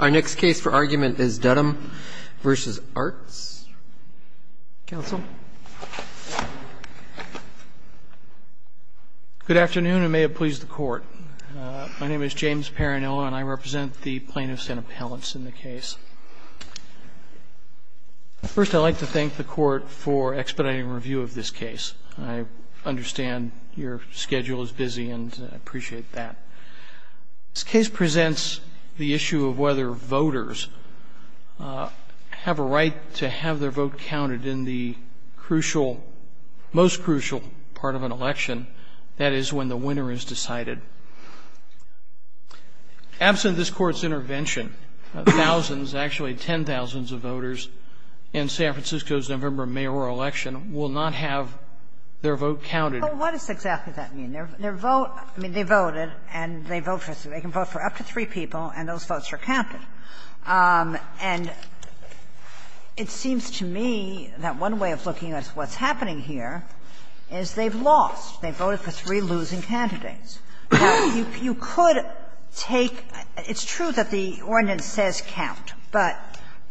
Our next case for argument is Dudum v. Arutz. Good afternoon and may it please the Court. My name is James Perrinella and I represent the plaintiffs and appellants in the case. First, I'd like to thank the Court for expediting review of this case. I understand your schedule is busy and I appreciate that. This case presents the issue of whether voters have a right to have their vote counted in the crucial, most crucial part of an election, that is, when the winner is decided. Absent this Court's intervention, thousands, actually ten thousands of voters in San Francisco's November mayoral election will not have their vote counted. So what does exactly that mean? Their vote, I mean, they voted and they vote for up to three people and those votes are counted. And it seems to me that one way of looking at what's happening here is they've lost. They voted for three losing candidates. Now, you could take – it's true that the ordinance says count, but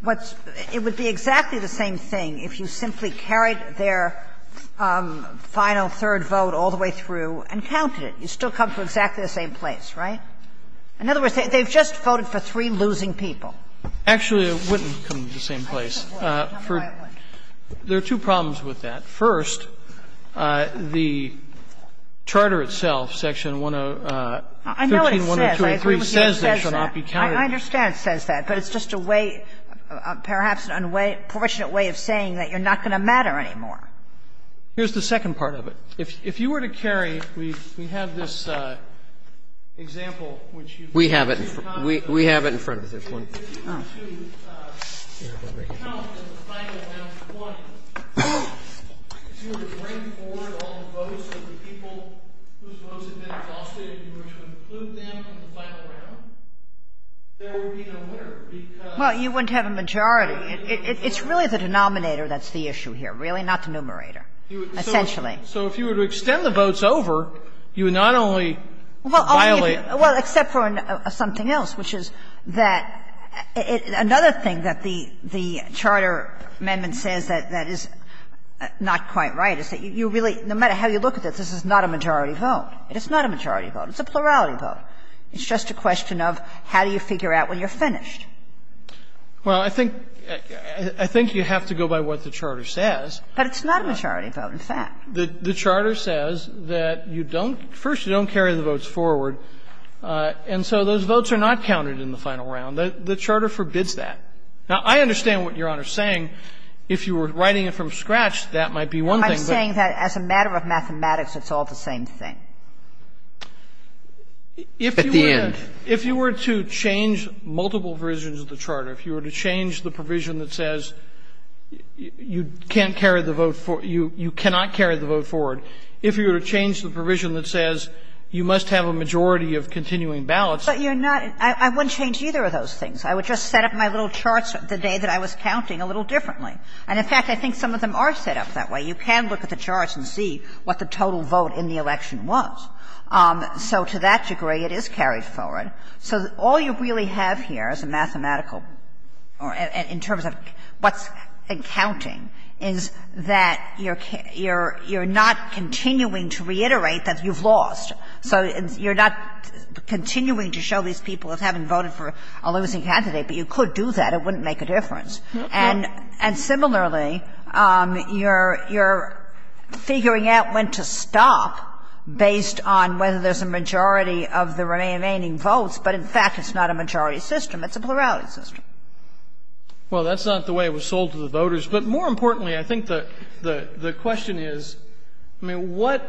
what's – it would be exactly the same thing if you simply carried their final third vote all the way through and counted it. You'd still come to exactly the same place, right? In other words, they've just voted for three losing people. Actually, it wouldn't come to the same place. There are two problems with that. First, the charter itself, section 15-102 and 15-103 says they should not be counted. I understand it says that, but it's just a way – perhaps an unfortunate way of saying that you're not going to matter anymore. Here's the second part of it. If you were to carry – we have this example which you've mentioned. We have it in front of us. Well, you wouldn't have a majority. It's really the denominator that's the issue here, really, not the numerator, essentially. So if you were to extend the votes over, you would not only violate the charter. Kagan. Well, except for something else, which is that another thing that the charter amendment says that is not quite right is that you really, no matter how you look at this, this is not a majority vote. It's not a majority vote. It's a plurality vote. It's just a question of how do you figure out when you're finished. Well, I think you have to go by what the charter says. But it's not a majority vote, in fact. The charter says that you don't – first, you don't carry the votes forward. And so those votes are not counted in the final round. The charter forbids that. Now, I understand what Your Honor is saying. If you were writing it from scratch, that might be one thing. I'm saying that as a matter of mathematics, it's all the same thing. At the end. If you were to change multiple versions of the charter, if you were to change the provision that says you must have a majority of continuing ballots, you're not – I wouldn't change either of those things. I would just set up my little charts the day that I was counting a little differently. And, in fact, I think some of them are set up that way. You can look at the charts and see what the total vote in the election was. So to that degree, it is carried forward. So all you really have here as a mathematical – in terms of what's counting is that you're not continuing to reiterate that you've lost. So you're not continuing to show these people that haven't voted for a losing candidate, but you could do that. It wouldn't make a difference. And similarly, you're figuring out when to stop based on whether there's a majority of the remaining votes, but in fact it's not a majority system. It's a plurality system. Well, that's not the way it was sold to the voters. But more importantly, I think the question is, I mean, what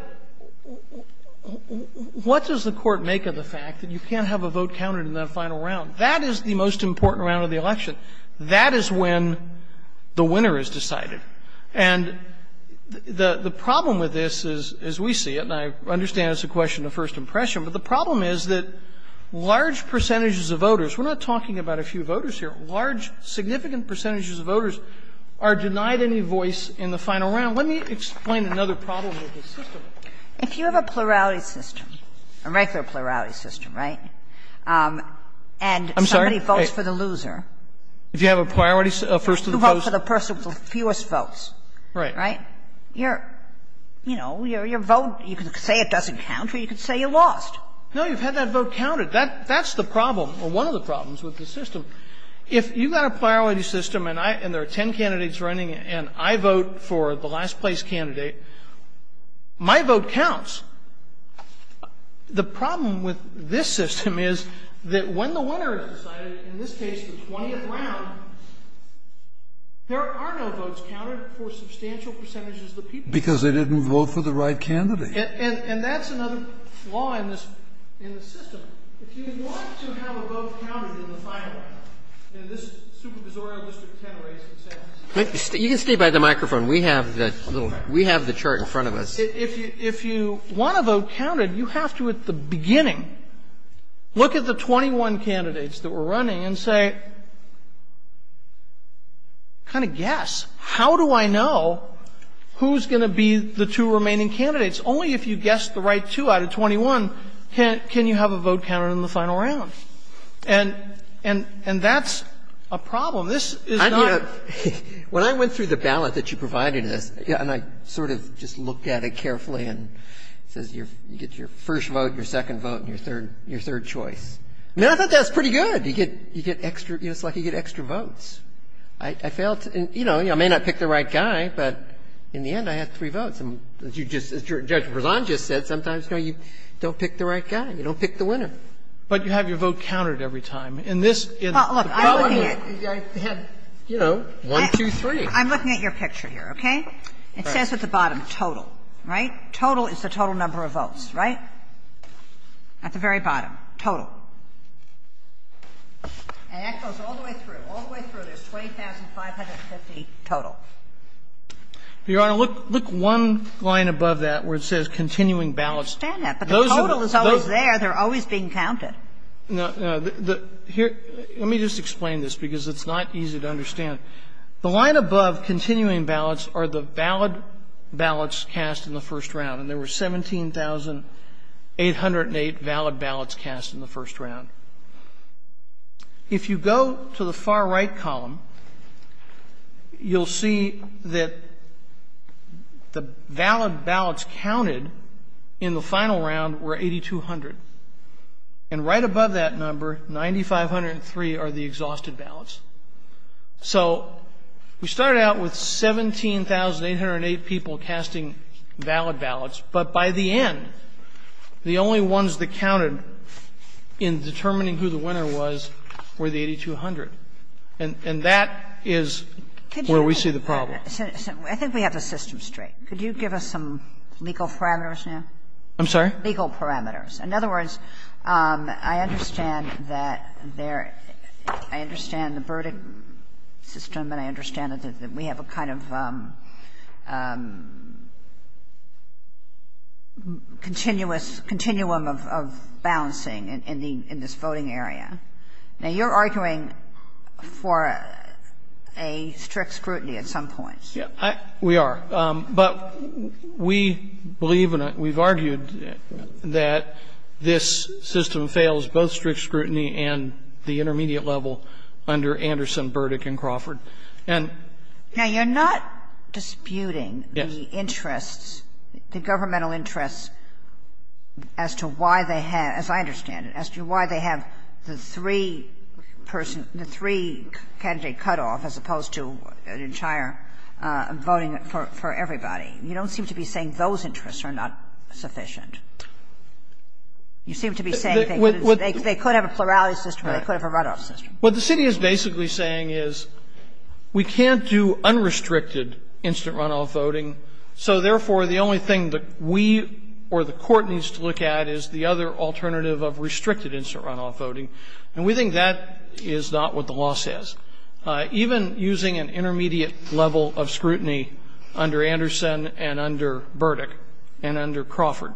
does the Court make of the fact that you can't have a vote counted in that final round? That is the most important round of the election. That is when the winner is decided. And the problem with this is, as we see it, and I understand it's a question of first impression, but the problem is that large percentages of voters – we're not talking about a few voters here – large, significant percentages of voters are denied any voice in the final round. Let me explain another problem with this system. If you have a plurality system, a regular plurality system, right, and somebody votes for the loser. I'm sorry. If you have a priority system, first and foremost. You vote for the person with the fewest votes. Right. Right? You're, you know, your vote, you can say it doesn't count or you can say you lost. No, you've had that vote counted. That's the problem, or one of the problems, with this system. If you've got a plurality system and I – and there are ten candidates running and I vote for the last place candidate, my vote counts, the problem with this system is that when the winner is decided, in this case the 20th round, there are no votes counted for substantial percentages of the people. Kennedy, because they didn't vote for the right candidate. And that's another flaw in this – in the system. If you want to have a vote counted in the final, in this supervisorial district 10 race, et cetera. You can stay by the microphone. We have the little – we have the chart in front of us. If you want a vote counted, you have to, at the beginning, look at the 21 candidates that were running and say, kind of guess, how do I know who's going to be the two remaining candidates? Only if you guess the right two out of 21 can you have a vote counted in the final round. And that's a problem. This is not a problem. Breyer. When I went through the ballot that you provided us, and I sort of just looked at it carefully and it says you get your first vote, your second vote and your third choice. I thought that was pretty good. You get extra – it's like you get extra votes. I failed to – you know, I may not pick the right guy, but in the end I had three votes. And as you just – as Judge Berzon just said, sometimes, you know, you don't pick the right guy. You don't pick the winner. But you have your vote counted every time. And this is the problem. Well, look, I'm looking at – I had, you know, one, two, three. I'm looking at your picture here, okay? It says at the bottom, total, right? Total is the total number of votes, right? At the very bottom, total. And that goes all the way through. All the way through, there's 20,550 total. Your Honor, look one line above that where it says continuing ballots. I understand that, but the total is always there. They're always being counted. No, no. Here – let me just explain this, because it's not easy to understand. The line above continuing ballots are the valid ballots cast in the first round. And there were 17,808 valid ballots cast in the first round. If you go to the far right column, you'll see that the valid ballots counted in the final round were 8,200. And right above that number, 9,503 are the exhausted ballots. So we started out with 17,808 people casting valid ballots. But by the end, the only ones that counted in determining who the winner was were the 8,200. And that is where we see the problem. I think we have the system straight. Could you give us some legal parameters now? I'm sorry? Legal parameters. In other words, I understand that there – I understand the verdict system and I understand that we have a kind of continuous – continuum of balancing in this voting area. Now, you're arguing for a strict scrutiny at some point. Yeah, we are. But we believe and we've argued that this system fails both strict scrutiny and the intermediate level under Anderson, Burdick, and Crawford. And – Now, you're not disputing the interests, the governmental interests as to why they have – as I understand it, as to why they have the three person – the three-candidate cutoff as opposed to an entire voting for everybody. You don't seem to be saying those interests are not sufficient. You seem to be saying they could have a plurality system or they could have a runoff system. What the city is basically saying is we can't do unrestricted instant runoff voting. So, therefore, the only thing that we or the court needs to look at is the other alternative of restricted instant runoff voting. And we think that is not what the law says. Even using an intermediate level of scrutiny under Anderson and under Burdick and under Crawford,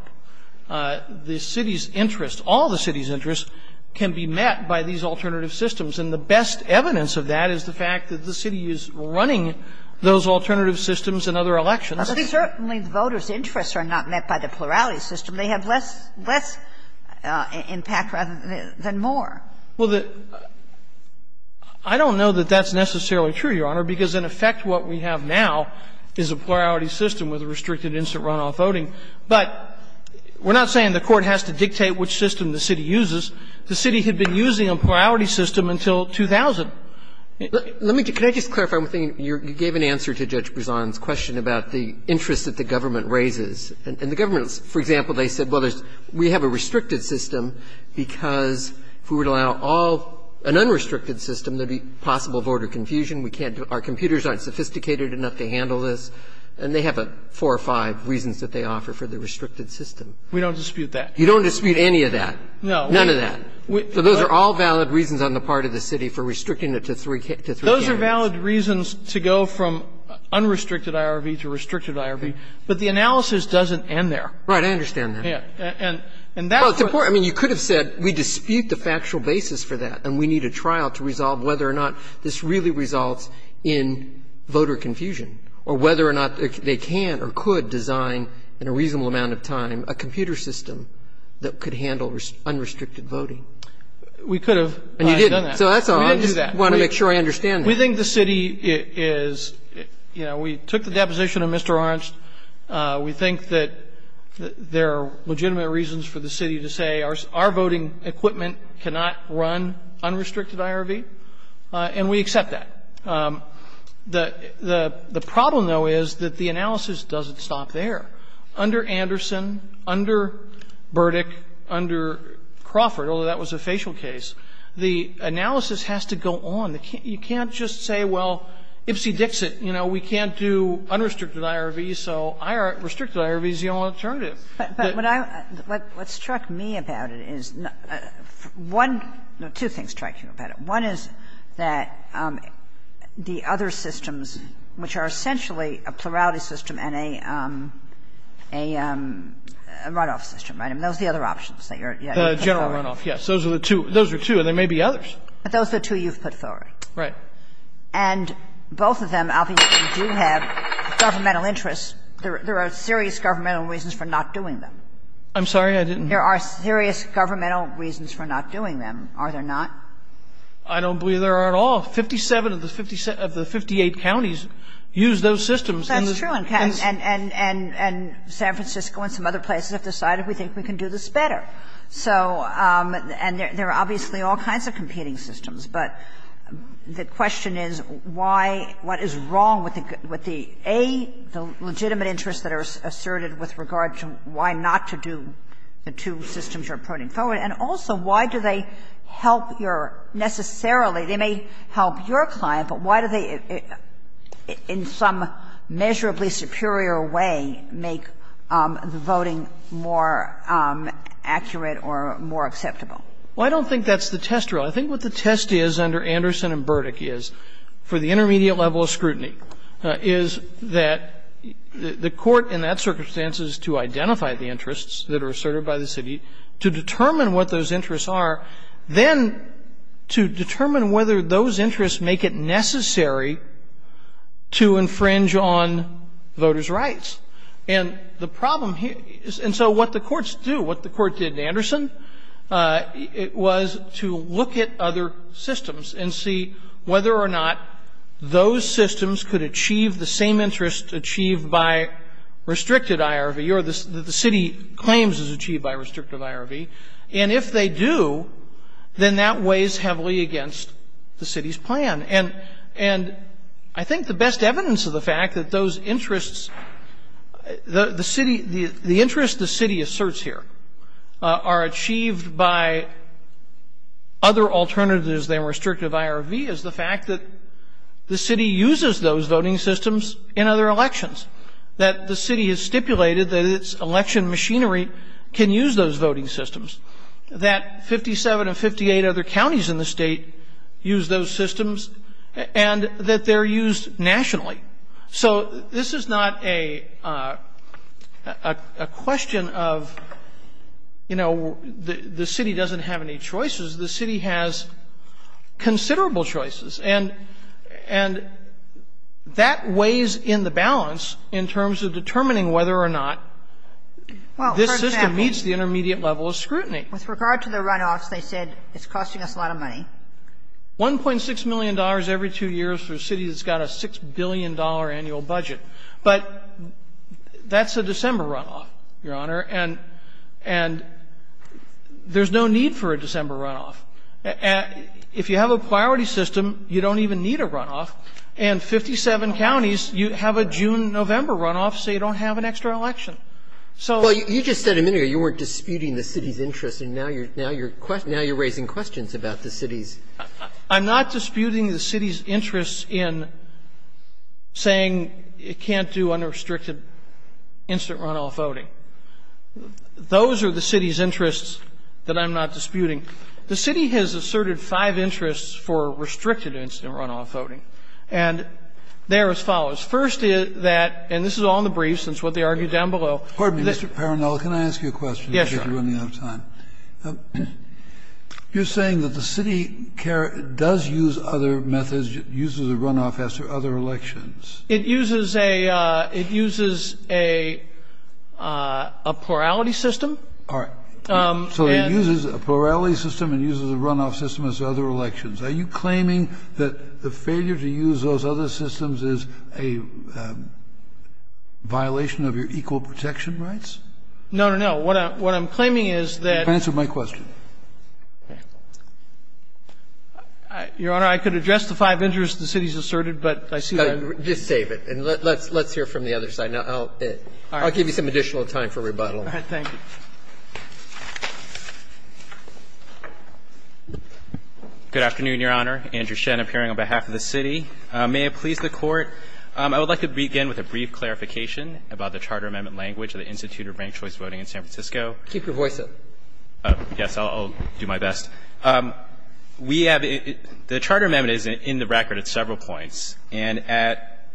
the city's interest – all the city's interests can be met by these alternative systems. And the best evidence of that is the fact that the city is running those alternative systems in other elections. But certainly voters' interests are not met by the plurality system. They have less – less impact rather than more. Well, the – I don't know that that's necessarily true, Your Honor, because in effect what we have now is a plurality system with a restricted instant runoff voting. But we're not saying the court has to dictate which system the city uses. The city had been using a plurality system until 2000. Let me just – can I just clarify one thing? You gave an answer to Judge Brezon's question about the interest that the government raises. And the government, for example, they said, well, there's – we have a restricted system because if we would allow all – an unrestricted system, there would be possible voter confusion. We can't – our computers aren't sophisticated enough to handle this. And they have four or five reasons that they offer for the restricted system. We don't dispute that. You don't dispute any of that? No. None of that. So those are all valid reasons on the part of the city for restricting it to three candidates. Those are valid reasons to go from unrestricted IRV to restricted IRV, but the analysis doesn't end there. Right. I understand that. And that's what's the point. I mean, you could have said we dispute the factual basis for that and we need a trial to resolve whether or not this really results in voter confusion or whether or not they can or could design in a reasonable amount of time a computer system that could handle unrestricted voting. We could have done that. And you didn't. So that's all. We didn't do that. I just want to make sure I understand that. We think the city is – you know, we took the deposition of Mr. Ornst. We think that there are legitimate reasons for the city to say our voting equipment cannot run unrestricted IRV, and we accept that. The problem, though, is that the analysis doesn't stop there. Under Anderson, under Burdick, under Crawford, although that was a facial case, the analysis has to go on. You can't just say, well, ipsy-dixit, you know, we can't do unrestricted IRV, so restricted IRV is the only alternative. But what I – what struck me about it is one – no, two things struck me about it. One is that the other systems, which are essentially a plurality system and a – and a runoff system, right? I mean, those are the other options that you're – The general runoff, yes. Those are the two. Those are two, and there may be others. But those are the two you've put forward. Right. And both of them obviously do have governmental interests. There are serious governmental reasons for not doing them. I'm sorry? I didn't – There are serious governmental reasons for not doing them, are there not? I don't believe there are at all. Fifty-seven of the fifty-eight counties use those systems. That's true. And San Francisco and some other places have decided we think we can do this better. So – and there are obviously all kinds of competing systems. But the question is why – what is wrong with the A, the legitimate interests that are asserted with regard to why not to do the two systems you're putting forward, and also why do they help your – necessarily, they may help your client, but why do they, in some measurably superior way, make the voting more accurate or more acceptable? Well, I don't think that's the test rule. I think what the test is under Anderson and Burdick is, for the intermediate level of scrutiny, is that the court in that circumstance is to identify the interests that are asserted by the city to determine what those interests are, then to determine whether those interests make it necessary to infringe on voters' rights. And the problem here is – and so what the courts do, what the court did in Anderson, it was to look at other systems and see whether or not those systems could achieve the same interest achieved by restricted IRV or the city claims is achieved by restricted IRV. And if they do, then that weighs heavily against the city's plan. And I think the best evidence of the fact that those interests – the interest the city asserts here are achieved by other alternatives than restrictive IRV is the fact that the city uses those voting systems in other elections, that the city has other voting systems, that 57 of 58 other counties in the State use those systems, and that they're used nationally. So this is not a question of, you know, the city doesn't have any choices. The city has considerable choices. And that weighs in the balance in terms of determining whether or not this system meets the intermediate level of scrutiny. With regard to the runoffs, they said it's costing us a lot of money. $1.6 million every two years for a city that's got a $6 billion annual budget. But that's a December runoff, Your Honor, and – and there's no need for a December runoff. If you have a priority system, you don't even need a runoff. And 57 counties, you have a June-November runoff, so you don't have an extra election. So you just said a minute ago you weren't disputing the city's interest, and now you're – now you're raising questions about the city's. I'm not disputing the city's interest in saying it can't do unrestricted instant runoff voting. Those are the city's interests that I'm not disputing. The city has asserted five interests for restricted instant runoff voting, and they are as follows. First is that – and this is all in the briefs, and it's what they argue down below. Pardon me, Mr. Paranel, can I ask you a question? Yes, Your Honor. I'm running out of time. You're saying that the city does use other methods, uses a runoff after other elections. It uses a – it uses a plurality system. All right. So it uses a plurality system and uses a runoff system as other elections. Are you claiming that the failure to use those other systems is a violation of your equal protection rights? No, no, no. What I'm claiming is that – Answer my question. Your Honor, I could address the five interests the city has asserted, but I see that – Just save it. And let's hear from the other side. Now, I'll give you some additional time for rebuttal. All right. Thank you. Good afternoon, Your Honor. Andrew Shen, appearing on behalf of the city. May it please the Court, I would like to begin with a brief clarification about the Charter Amendment language of the Institute of Ranked Choice Voting in San Francisco. Keep your voice up. Yes, I'll do my best. We have – the Charter Amendment is in the record at several points, and at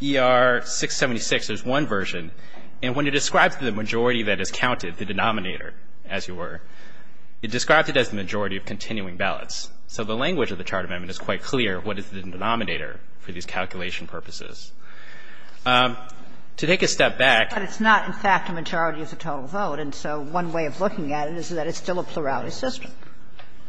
ER-676 there's one version. And when it describes the majority that is counted, the denominator, as you were, it described it as the majority of continuing ballots. So the language of the Charter Amendment is quite clear what is the denominator for these calculation purposes. To take a step back – But it's not, in fact, a majority of the total vote. And so one way of looking at it is that it's still a plurality system.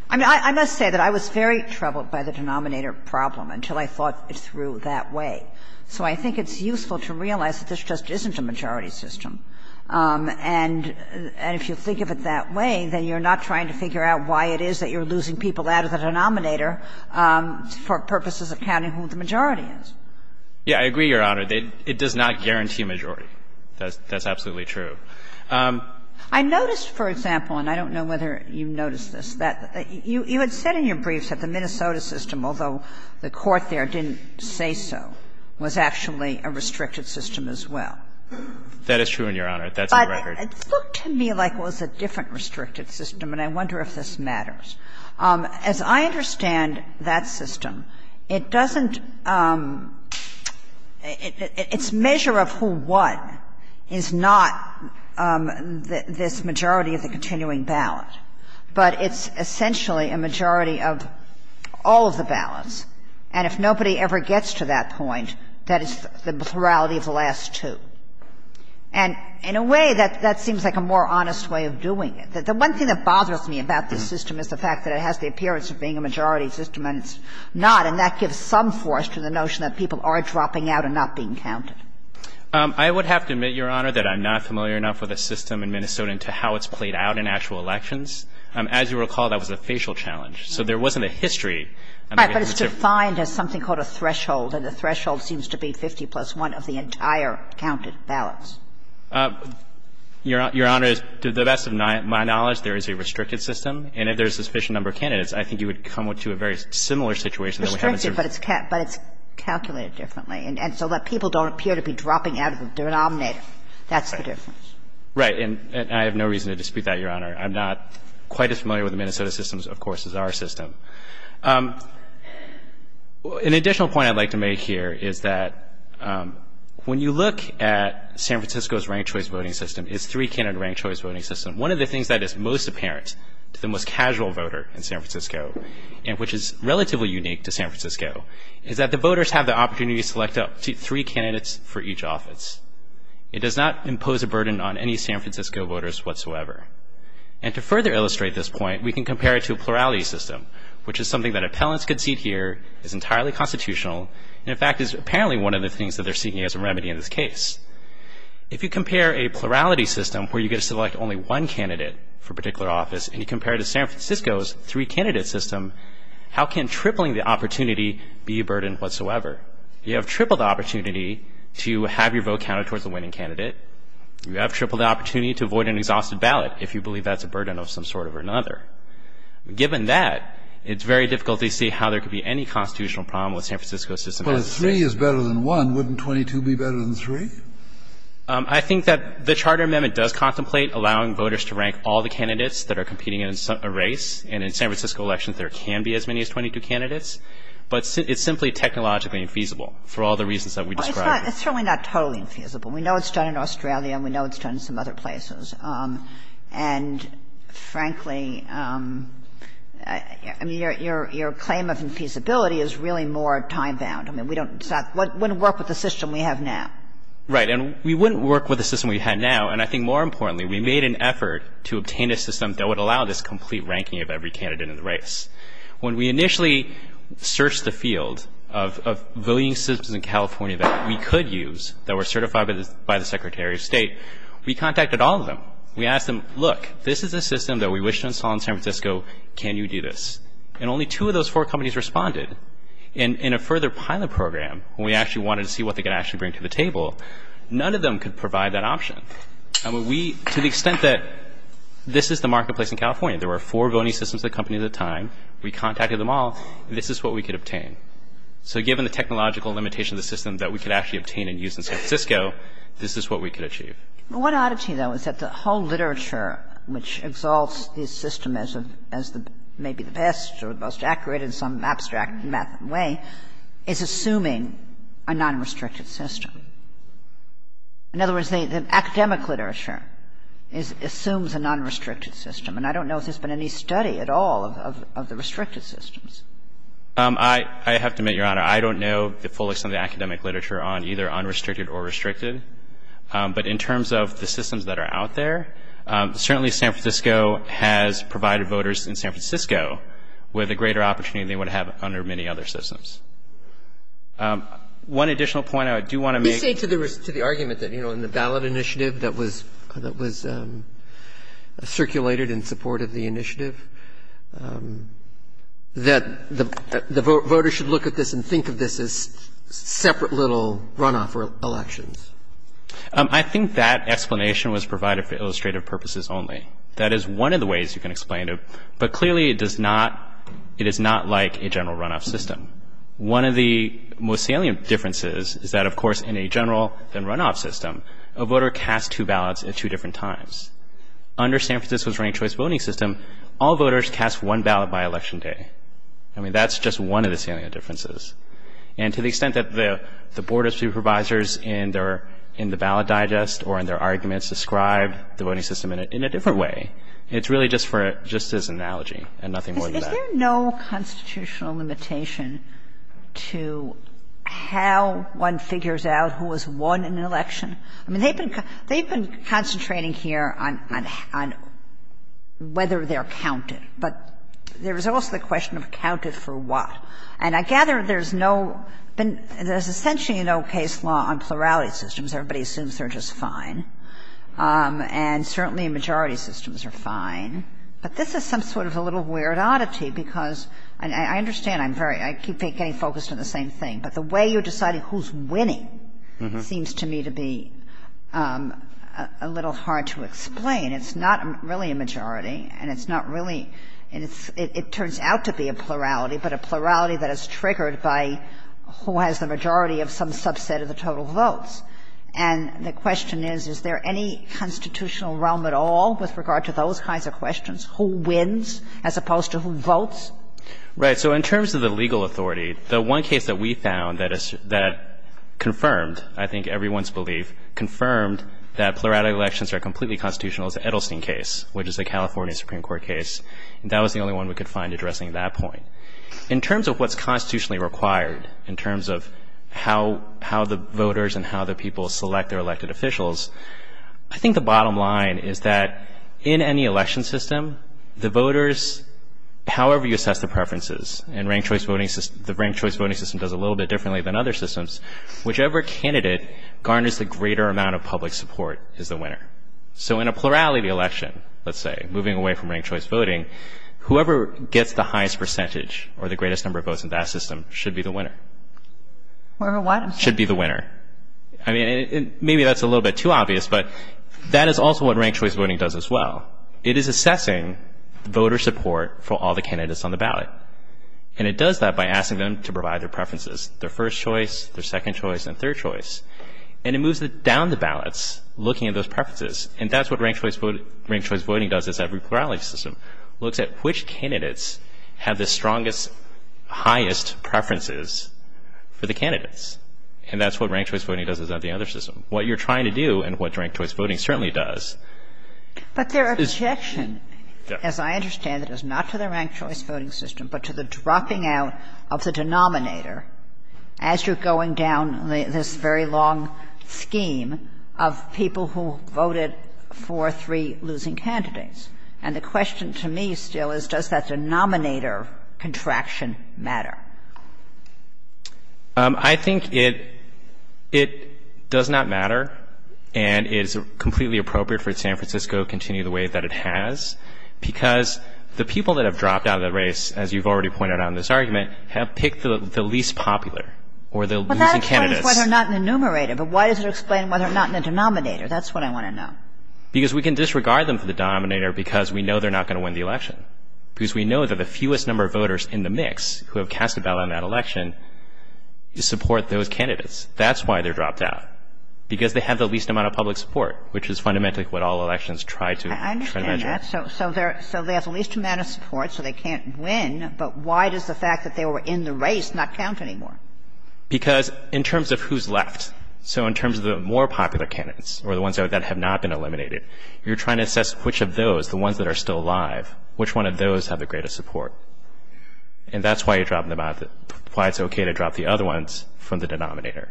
I mean, I must say that I was very troubled by the denominator problem until I thought it through that way. So I think it's useful to realize that this just isn't a majority system. And if you think of it that way, then you're not trying to figure out why it is that you're losing people out of the denominator for purposes of counting who the majority is. Yeah, I agree, Your Honor. It does not guarantee majority. That's absolutely true. I noticed, for example, and I don't know whether you noticed this, that you had said in your briefs that the Minnesota system, although the Court there didn't say so, was actually a restricted system as well. That is true, and, Your Honor, that's a record. But it looked to me like it was a different restricted system, and I wonder if this matters. As I understand that system, it doesn't – its measure of who won is not this majority of the continuing ballot, but it's essentially a majority of all of the ballots. And if nobody ever gets to that point, that is the plurality of the last two. And in a way, that seems like a more honest way of doing it. The one thing that bothers me about this system is the fact that it has the appearance of being a majority system, and it's not, and that gives some force to the notion that people are dropping out and not being counted. I would have to admit, Your Honor, that I'm not familiar enough with a system in Minnesota as to how it's played out in actual elections. As you recall, that was a facial challenge, so there wasn't a history. I'm not going to have to – But it's defined as something called a threshold, and the threshold seems to be 50 plus 1 of the entire counted ballots. Your Honor, to the best of my knowledge, there is a restricted system, and if there is a sufficient number of candidates, I think you would come to a very similar situation. Restricted, but it's calculated differently, and so that people don't appear to be dropping out of the denominator, that's the difference. Right. And I have no reason to dispute that, Your Honor. I'm not quite as familiar with the Minnesota system, of course, as our system. An additional point I'd like to make here is that when you look at San Francisco's ranked-choice voting system, its three-candidate ranked-choice voting system, one of the things that is most apparent to the most casual voter in San Francisco, and which is relatively unique to San Francisco, is that the voters have the opportunity to select up to three candidates for each office. It does not impose a burden on any San Francisco voters whatsoever. And to further illustrate this point, we can compare it to a plurality system, which is something that appellants could see here, is entirely constitutional, and in fact is apparently one of the things that they're seeing as a remedy in this case. If you compare a plurality system where you get to select only one candidate for a particular office, and you compare it to San Francisco's three-candidate system, how can tripling the opportunity be a burden whatsoever? You have tripled the opportunity to have your vote counted towards the winning candidate. You have tripled the opportunity to avoid an exhausted ballot if you believe that's a burden of some sort or another. Given that, it's very difficult to see how there could be any constitutional problem with San Francisco's system. Kennedy. Well, if three is better than one, wouldn't 22 be better than three? I think that the Charter Amendment does contemplate allowing voters to rank all the candidates that are competing in a race, and in San Francisco elections, there can be as many as 22 candidates. But it's simply technologically infeasible for all the reasons that we described. It's certainly not totally infeasible. We know it's done in Australia, and we know it's done in some other places. And, frankly, I mean, your claim of infeasibility is really more time-bound. I mean, we don't – it wouldn't work with the system we have now. Right. And we wouldn't work with the system we have now. And I think more importantly, we made an effort to obtain a system that would allow this complete ranking of every candidate in the race. When we initially searched the field of voting systems in California that we could use, that were certified by the Secretary of State, we contacted all of them. We asked them, look, this is a system that we wish to install in San Francisco. Can you do this? And only two of those four companies responded. In a further pilot program, when we actually wanted to see what they could actually bring to the table, none of them could provide that option. I mean, we – to the extent that this is the marketplace in California. There were four voting systems that accompanied at the time. We contacted them all. This is what we could obtain. So given the technological limitation of the system that we could actually obtain and use in San Francisco, this is what we could achieve. But one oddity, though, is that the whole literature which exalts this system as the – as the – maybe the best or the most accurate in some abstract method way is assuming a nonrestricted system. In other words, the academic literature assumes a nonrestricted system. And I don't know if there's been any study at all of the restricted systems. I have to admit, Your Honor, I don't know the full extent of the academic literature on either unrestricted or restricted. But in terms of the systems that are out there, certainly San Francisco has provided voters in San Francisco with a greater opportunity than they would have under many other systems. One additional point I do want to make — You say to the argument that, you know, in the ballot initiative that was circulated in support of the initiative, that the voters should look at this and think of this as separate little runoff elections. I think that explanation was provided for illustrative purposes only. That is one of the ways you can explain it. But clearly it does not – it is not like a general runoff system. One of the most salient differences is that, of course, in a general runoff system, a voter casts two ballots at two different times. Under San Francisco's ranked choice voting system, all voters cast one ballot by election day. I mean, that's just one of the salient differences. And to the extent that the Board of Supervisors in their – in the ballot digest or in their arguments describe the voting system in a different way, it's really just for – just as an analogy and nothing more than that. Is there no constitutional limitation to how one figures out who has won an election? I mean, they've been concentrating here on whether they're counted. But there is also the question of counted for what. And I gather there's no – there's essentially no case law on plurality systems. Everybody assumes they're just fine. And certainly majority systems are fine. But this is some sort of a little weird oddity because – and I understand I'm very – I keep getting focused on the same thing. But the way you're deciding who's winning seems to me to be a little hard to explain. It's not really a majority. And it's not really – it turns out to be a plurality, but a plurality that is triggered by who has the majority of some subset of the total votes. And the question is, is there any constitutional realm at all with regard to those kinds of questions, who wins as opposed to who votes? Right. So in terms of the legal authority, the one case that we found that is – that confirmed, I think, everyone's belief, confirmed that plurality elections are completely constitutional is the Edelstein case, which is a California Supreme Court case. And that was the only one we could find addressing that point. In terms of what's constitutionally required, in terms of how the voters and how the people select their elected officials, I think the bottom line is that in any election system, the voters, however you assess the preferences, and the ranked choice voting system does a little bit differently than other systems, whichever candidate garners the greater amount of public support is the winner. So in a plurality election, let's say, moving away from ranked choice voting, whoever gets the highest percentage or the greatest number of votes in that system should be the winner. Or a winner. Should be the winner. I mean, maybe that's a little bit too obvious, but that is also what ranked choice voting does as well. It is assessing voter support for all the candidates on the ballot. And it does that by asking them to provide their preferences. Their first choice, their second choice, and third choice. And it moves it down the ballots, looking at those preferences. And that's what ranked choice voting does as every plurality system. Looks at which candidates have the strongest, highest preferences for the candidates. And that's what ranked choice voting does as every other system. What you're trying to do and what ranked choice voting certainly does. But their objection, as I understand it, is not to the ranked choice voting system, but to the dropping out of the denominator as you're going down this very long scheme of people who voted for three losing candidates. And the question to me still is, does that denominator contraction matter? I think it does not matter and is completely appropriate for San Francisco to continue the way that it has because the people that have dropped out of the race, as you've already pointed out in this argument, have picked the least popular or the losing candidates. Well, that explains why they're not in the numerator, but why does it explain why they're not in the denominator? That's what I want to know. Because we can disregard them for the denominator because we know they're not going to win the election. And the reason I'm asking about that election is to support those candidates. That's why they're dropped out, because they have the least amount of public support, which is fundamentally what all elections try to measure. I understand that. So they have the least amount of support, so they can't win, but why does the fact that they were in the race not count anymore? Because in terms of who's left, so in terms of the more popular candidates or the ones that have not been eliminated, you're trying to assess which of those, the ones that are still alive, which one of those have the greatest support. And that's why you're dropping them out, why it's okay to drop the other ones from the denominator.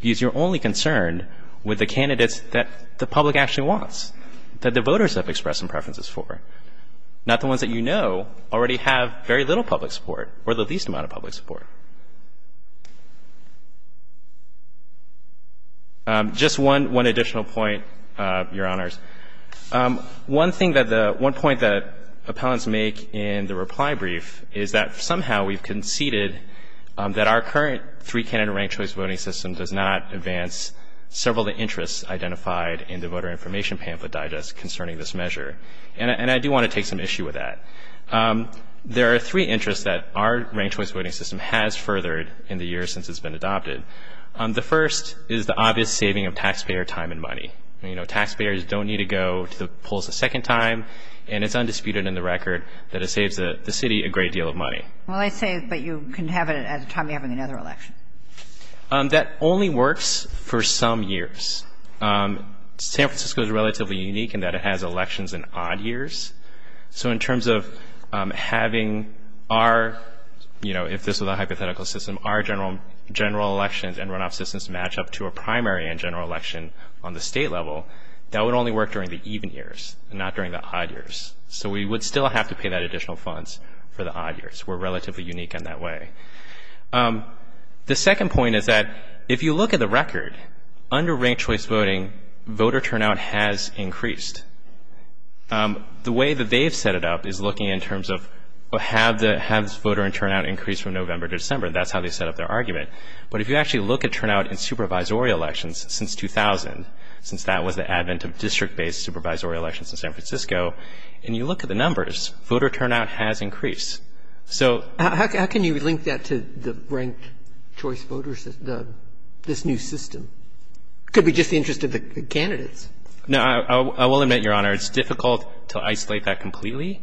Because you're only concerned with the candidates that the public actually wants, that the voters have expressed some preferences for, not the ones that you know already have very little public support or the least amount of public support. Just one additional point, Your Honors. One thing that the, one point that appellants make in the reply brief is that somehow we've conceded that our current three-candidate ranked-choice voting system does not advance several of the interests identified in the Voter Information Pamphlet Digest concerning this measure. And I do want to take some issue with that. There are three interests that our ranked-choice voting system has furthered in the years since it's been adopted. The first is the obvious saving of taxpayer time and money. You know, taxpayers don't need to go to the polls a second time. And it's undisputed in the record that it saves the city a great deal of money. Well, I say, but you can have it at a time you're having another election. That only works for some years. San Francisco is relatively unique in that it has elections in odd years. So in terms of having our, you know, if this was a hypothetical system, our general elections and runoff systems match up to a primary and general election on the state level, that would only work during the even years, not during the odd years. So we would still have to pay that additional funds for the odd years. We're relatively unique in that way. The second point is that if you look at the record, under ranked-choice voting, voter turnout has increased. The way that they've set it up is looking in terms of have voter turnout increased from November to December. That's how they set up their argument. But if you actually look at turnout in supervisory elections since 2000, since that was the advent of district-based supervisory elections in San Francisco, and you look at the numbers, voter turnout has increased. So — How can you link that to the ranked-choice voters, this new system? It could be just the interest of the candidates. No, I will admit, Your Honor, it's difficult to isolate that completely,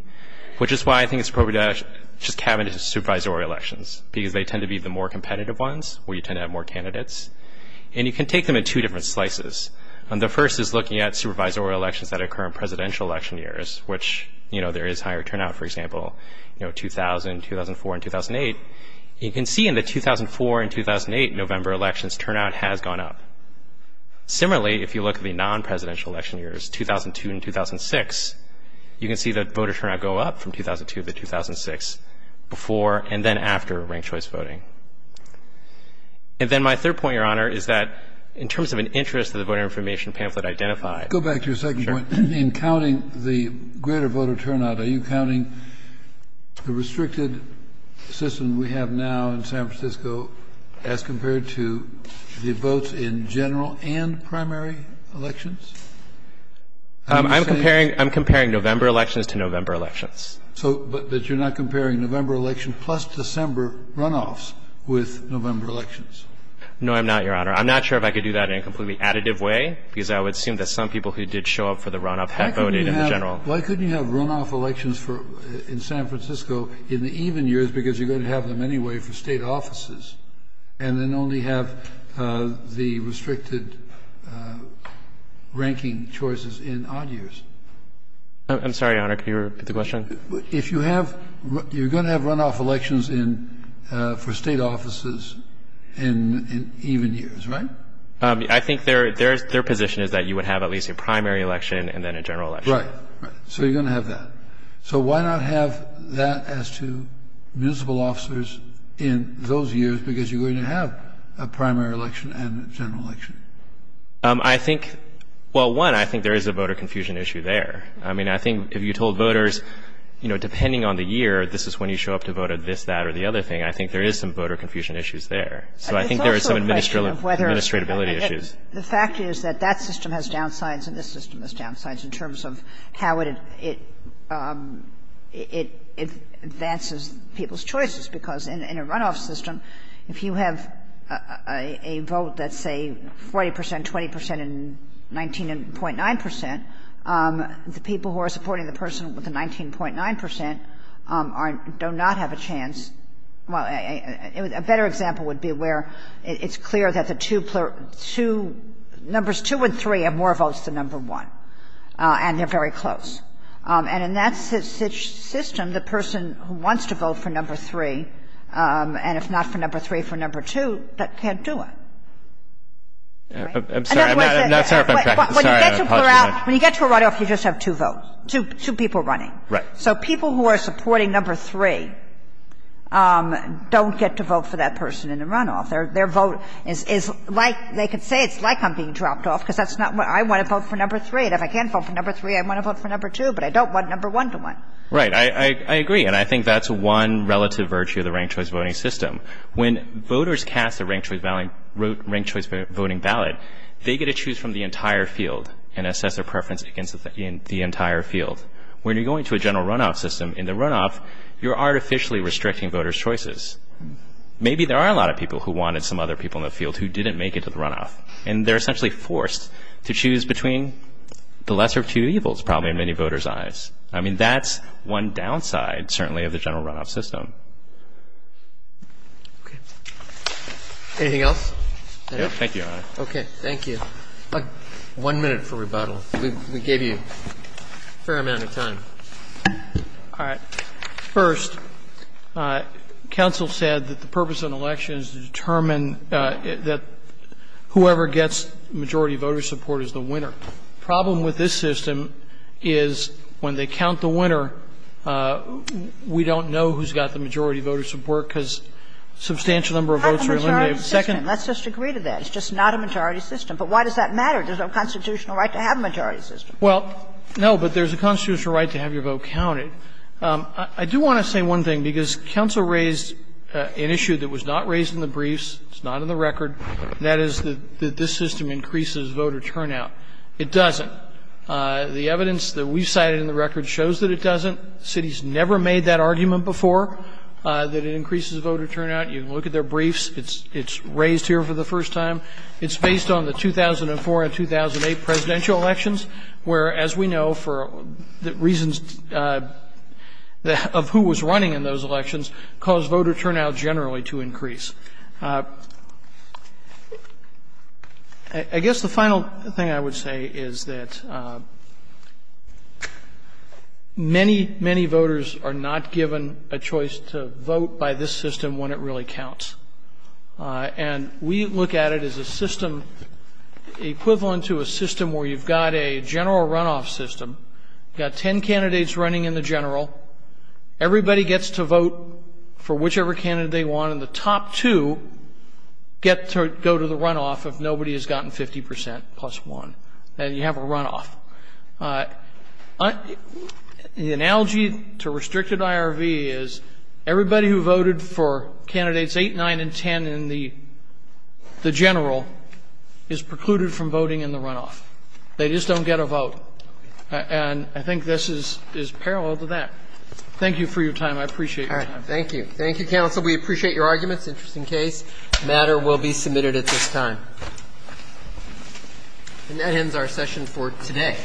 which is why I think it's appropriate to just cabinet and supervisory elections because they tend to be the more competitive ones where you tend to have more candidates. And you can take them in two different slices. The first is looking at supervisory elections that occur in presidential election years, which there is higher turnout, for example, 2000, 2004, and 2008. You can see in the 2004 and 2008 November elections, turnout has gone up. Similarly, if you look at the non-presidential election years, 2002 and 2006, you can see that voter turnout go up from 2002 to 2006, before and then after ranked-choice voting. And then my third point, Your Honor, is that in terms of an interest that the Voter Information Pamphlet identified — Go back to your second point. Sure. In counting the greater voter turnout, are you counting the restricted system we have now in San Francisco as compared to the votes in general and primary elections? I'm comparing November elections to November elections. But you're not comparing November election plus December runoffs with November elections? No, I'm not, Your Honor. I'm not sure if I could do that in a completely additive way because I would assume that some people who did show up for the runoff had voted in general. Why couldn't you have runoff elections in San Francisco in the even years because you're going to have them anyway for state offices and then only have the restricted ranking choices in odd years? I'm sorry, Your Honor. Could you repeat the question? If you have — you're going to have runoff elections for state offices in even years, right? I think their position is that you would have at least a primary election and then a general election. Right. So you're going to have that. So why not have that as to municipal officers in those years because you're going to have a primary election and a general election? I think — well, one, I think there is a voter confusion issue there. I mean, I think if you told voters, you know, depending on the year, this is when you show up to vote at this, that, or the other thing, I think there is some voter confusion issues there. So I think there is some administratability issues. The fact is that that system has downsides and this system has downsides in terms of how it advances people's choices because in a runoff system, if you have a vote that's, say, 40 percent, 20 percent, and 19.9 percent, the people who are supporting the person with the 19.9 percent do not have a chance — well, a better example would be where it's clear that the two — numbers two and three have more votes than number one and they're very close. And in that system, the person who wants to vote for number three and if not for number three, for number two, that can't do it. I'm sorry. When you get to a runoff, you just have two votes, two people running. Right. So people who are supporting number three don't get to vote for that person in a runoff. Their vote is like — they could say it's like I'm being dropped off because that's not what — I want to vote for number three and if I can't vote for number three, I want to vote for number two, but I don't want number one to win. Right. I agree. And I think that's one relative virtue of the ranked choice voting system. When voters cast a ranked choice voting ballot, they get to choose from the entire field and assess their preference against the entire field. When you're going to a general runoff system, in the runoff, you're artificially restricting voters' choices. Maybe there are a lot of people who wanted some other people in the field who didn't make it to the runoff and they're essentially forced to choose between the lesser of two evils probably in many voters' eyes. I mean, that's one downside certainly of the general runoff system. Okay. Anything else? Thank you, Your Honor. Thank you. One minute for rebuttal. We gave you a fair amount of time. All right. First, counsel said that the purpose of an election is to determine that whoever gets majority voter support is the winner. The problem with this system is when they count the winner, we don't know who's got the majority voter support because a substantial number of votes are eliminated. That's a majority system. Let's just agree to that. It's just not a majority system. But why does that matter? There's no constitutional right to have a majority system. Well, no, but there's a constitutional right to have your vote counted. I do want to say one thing because counsel raised an issue that was not raised in the briefs, it's not in the record, and that is that this system increases voter turnout. It doesn't. The evidence that we've cited in the record shows that it doesn't. The city's never made that argument before, that it increases voter turnout. You can look at their briefs. It's raised here for the first time. It's based on the 2004 and 2008 presidential elections where, as we know, for reasons of who was running in those elections, caused voter turnout generally to increase. I guess the final thing I would say is that many, many voters are not given a choice to vote by this system when it really counts. And we look at it as a system, equivalent to a system where you've got a general runoff system, you've got ten candidates running in the general, everybody gets to vote for whichever candidate they want, and the top two get to go to the runoff if nobody has gotten 50 percent plus one. Then you have a runoff. The analogy to restricted IRV is everybody who voted for candidates 8, 9, and 10 in the general is precluded from voting in the runoff. They just don't get a vote. And I think this is parallel to that. Thank you for your time. I appreciate your time. Thank you. Thank you, counsel. We appreciate your arguments. Interesting case. The matter will be submitted at this time. And that ends our session for today. Thank you.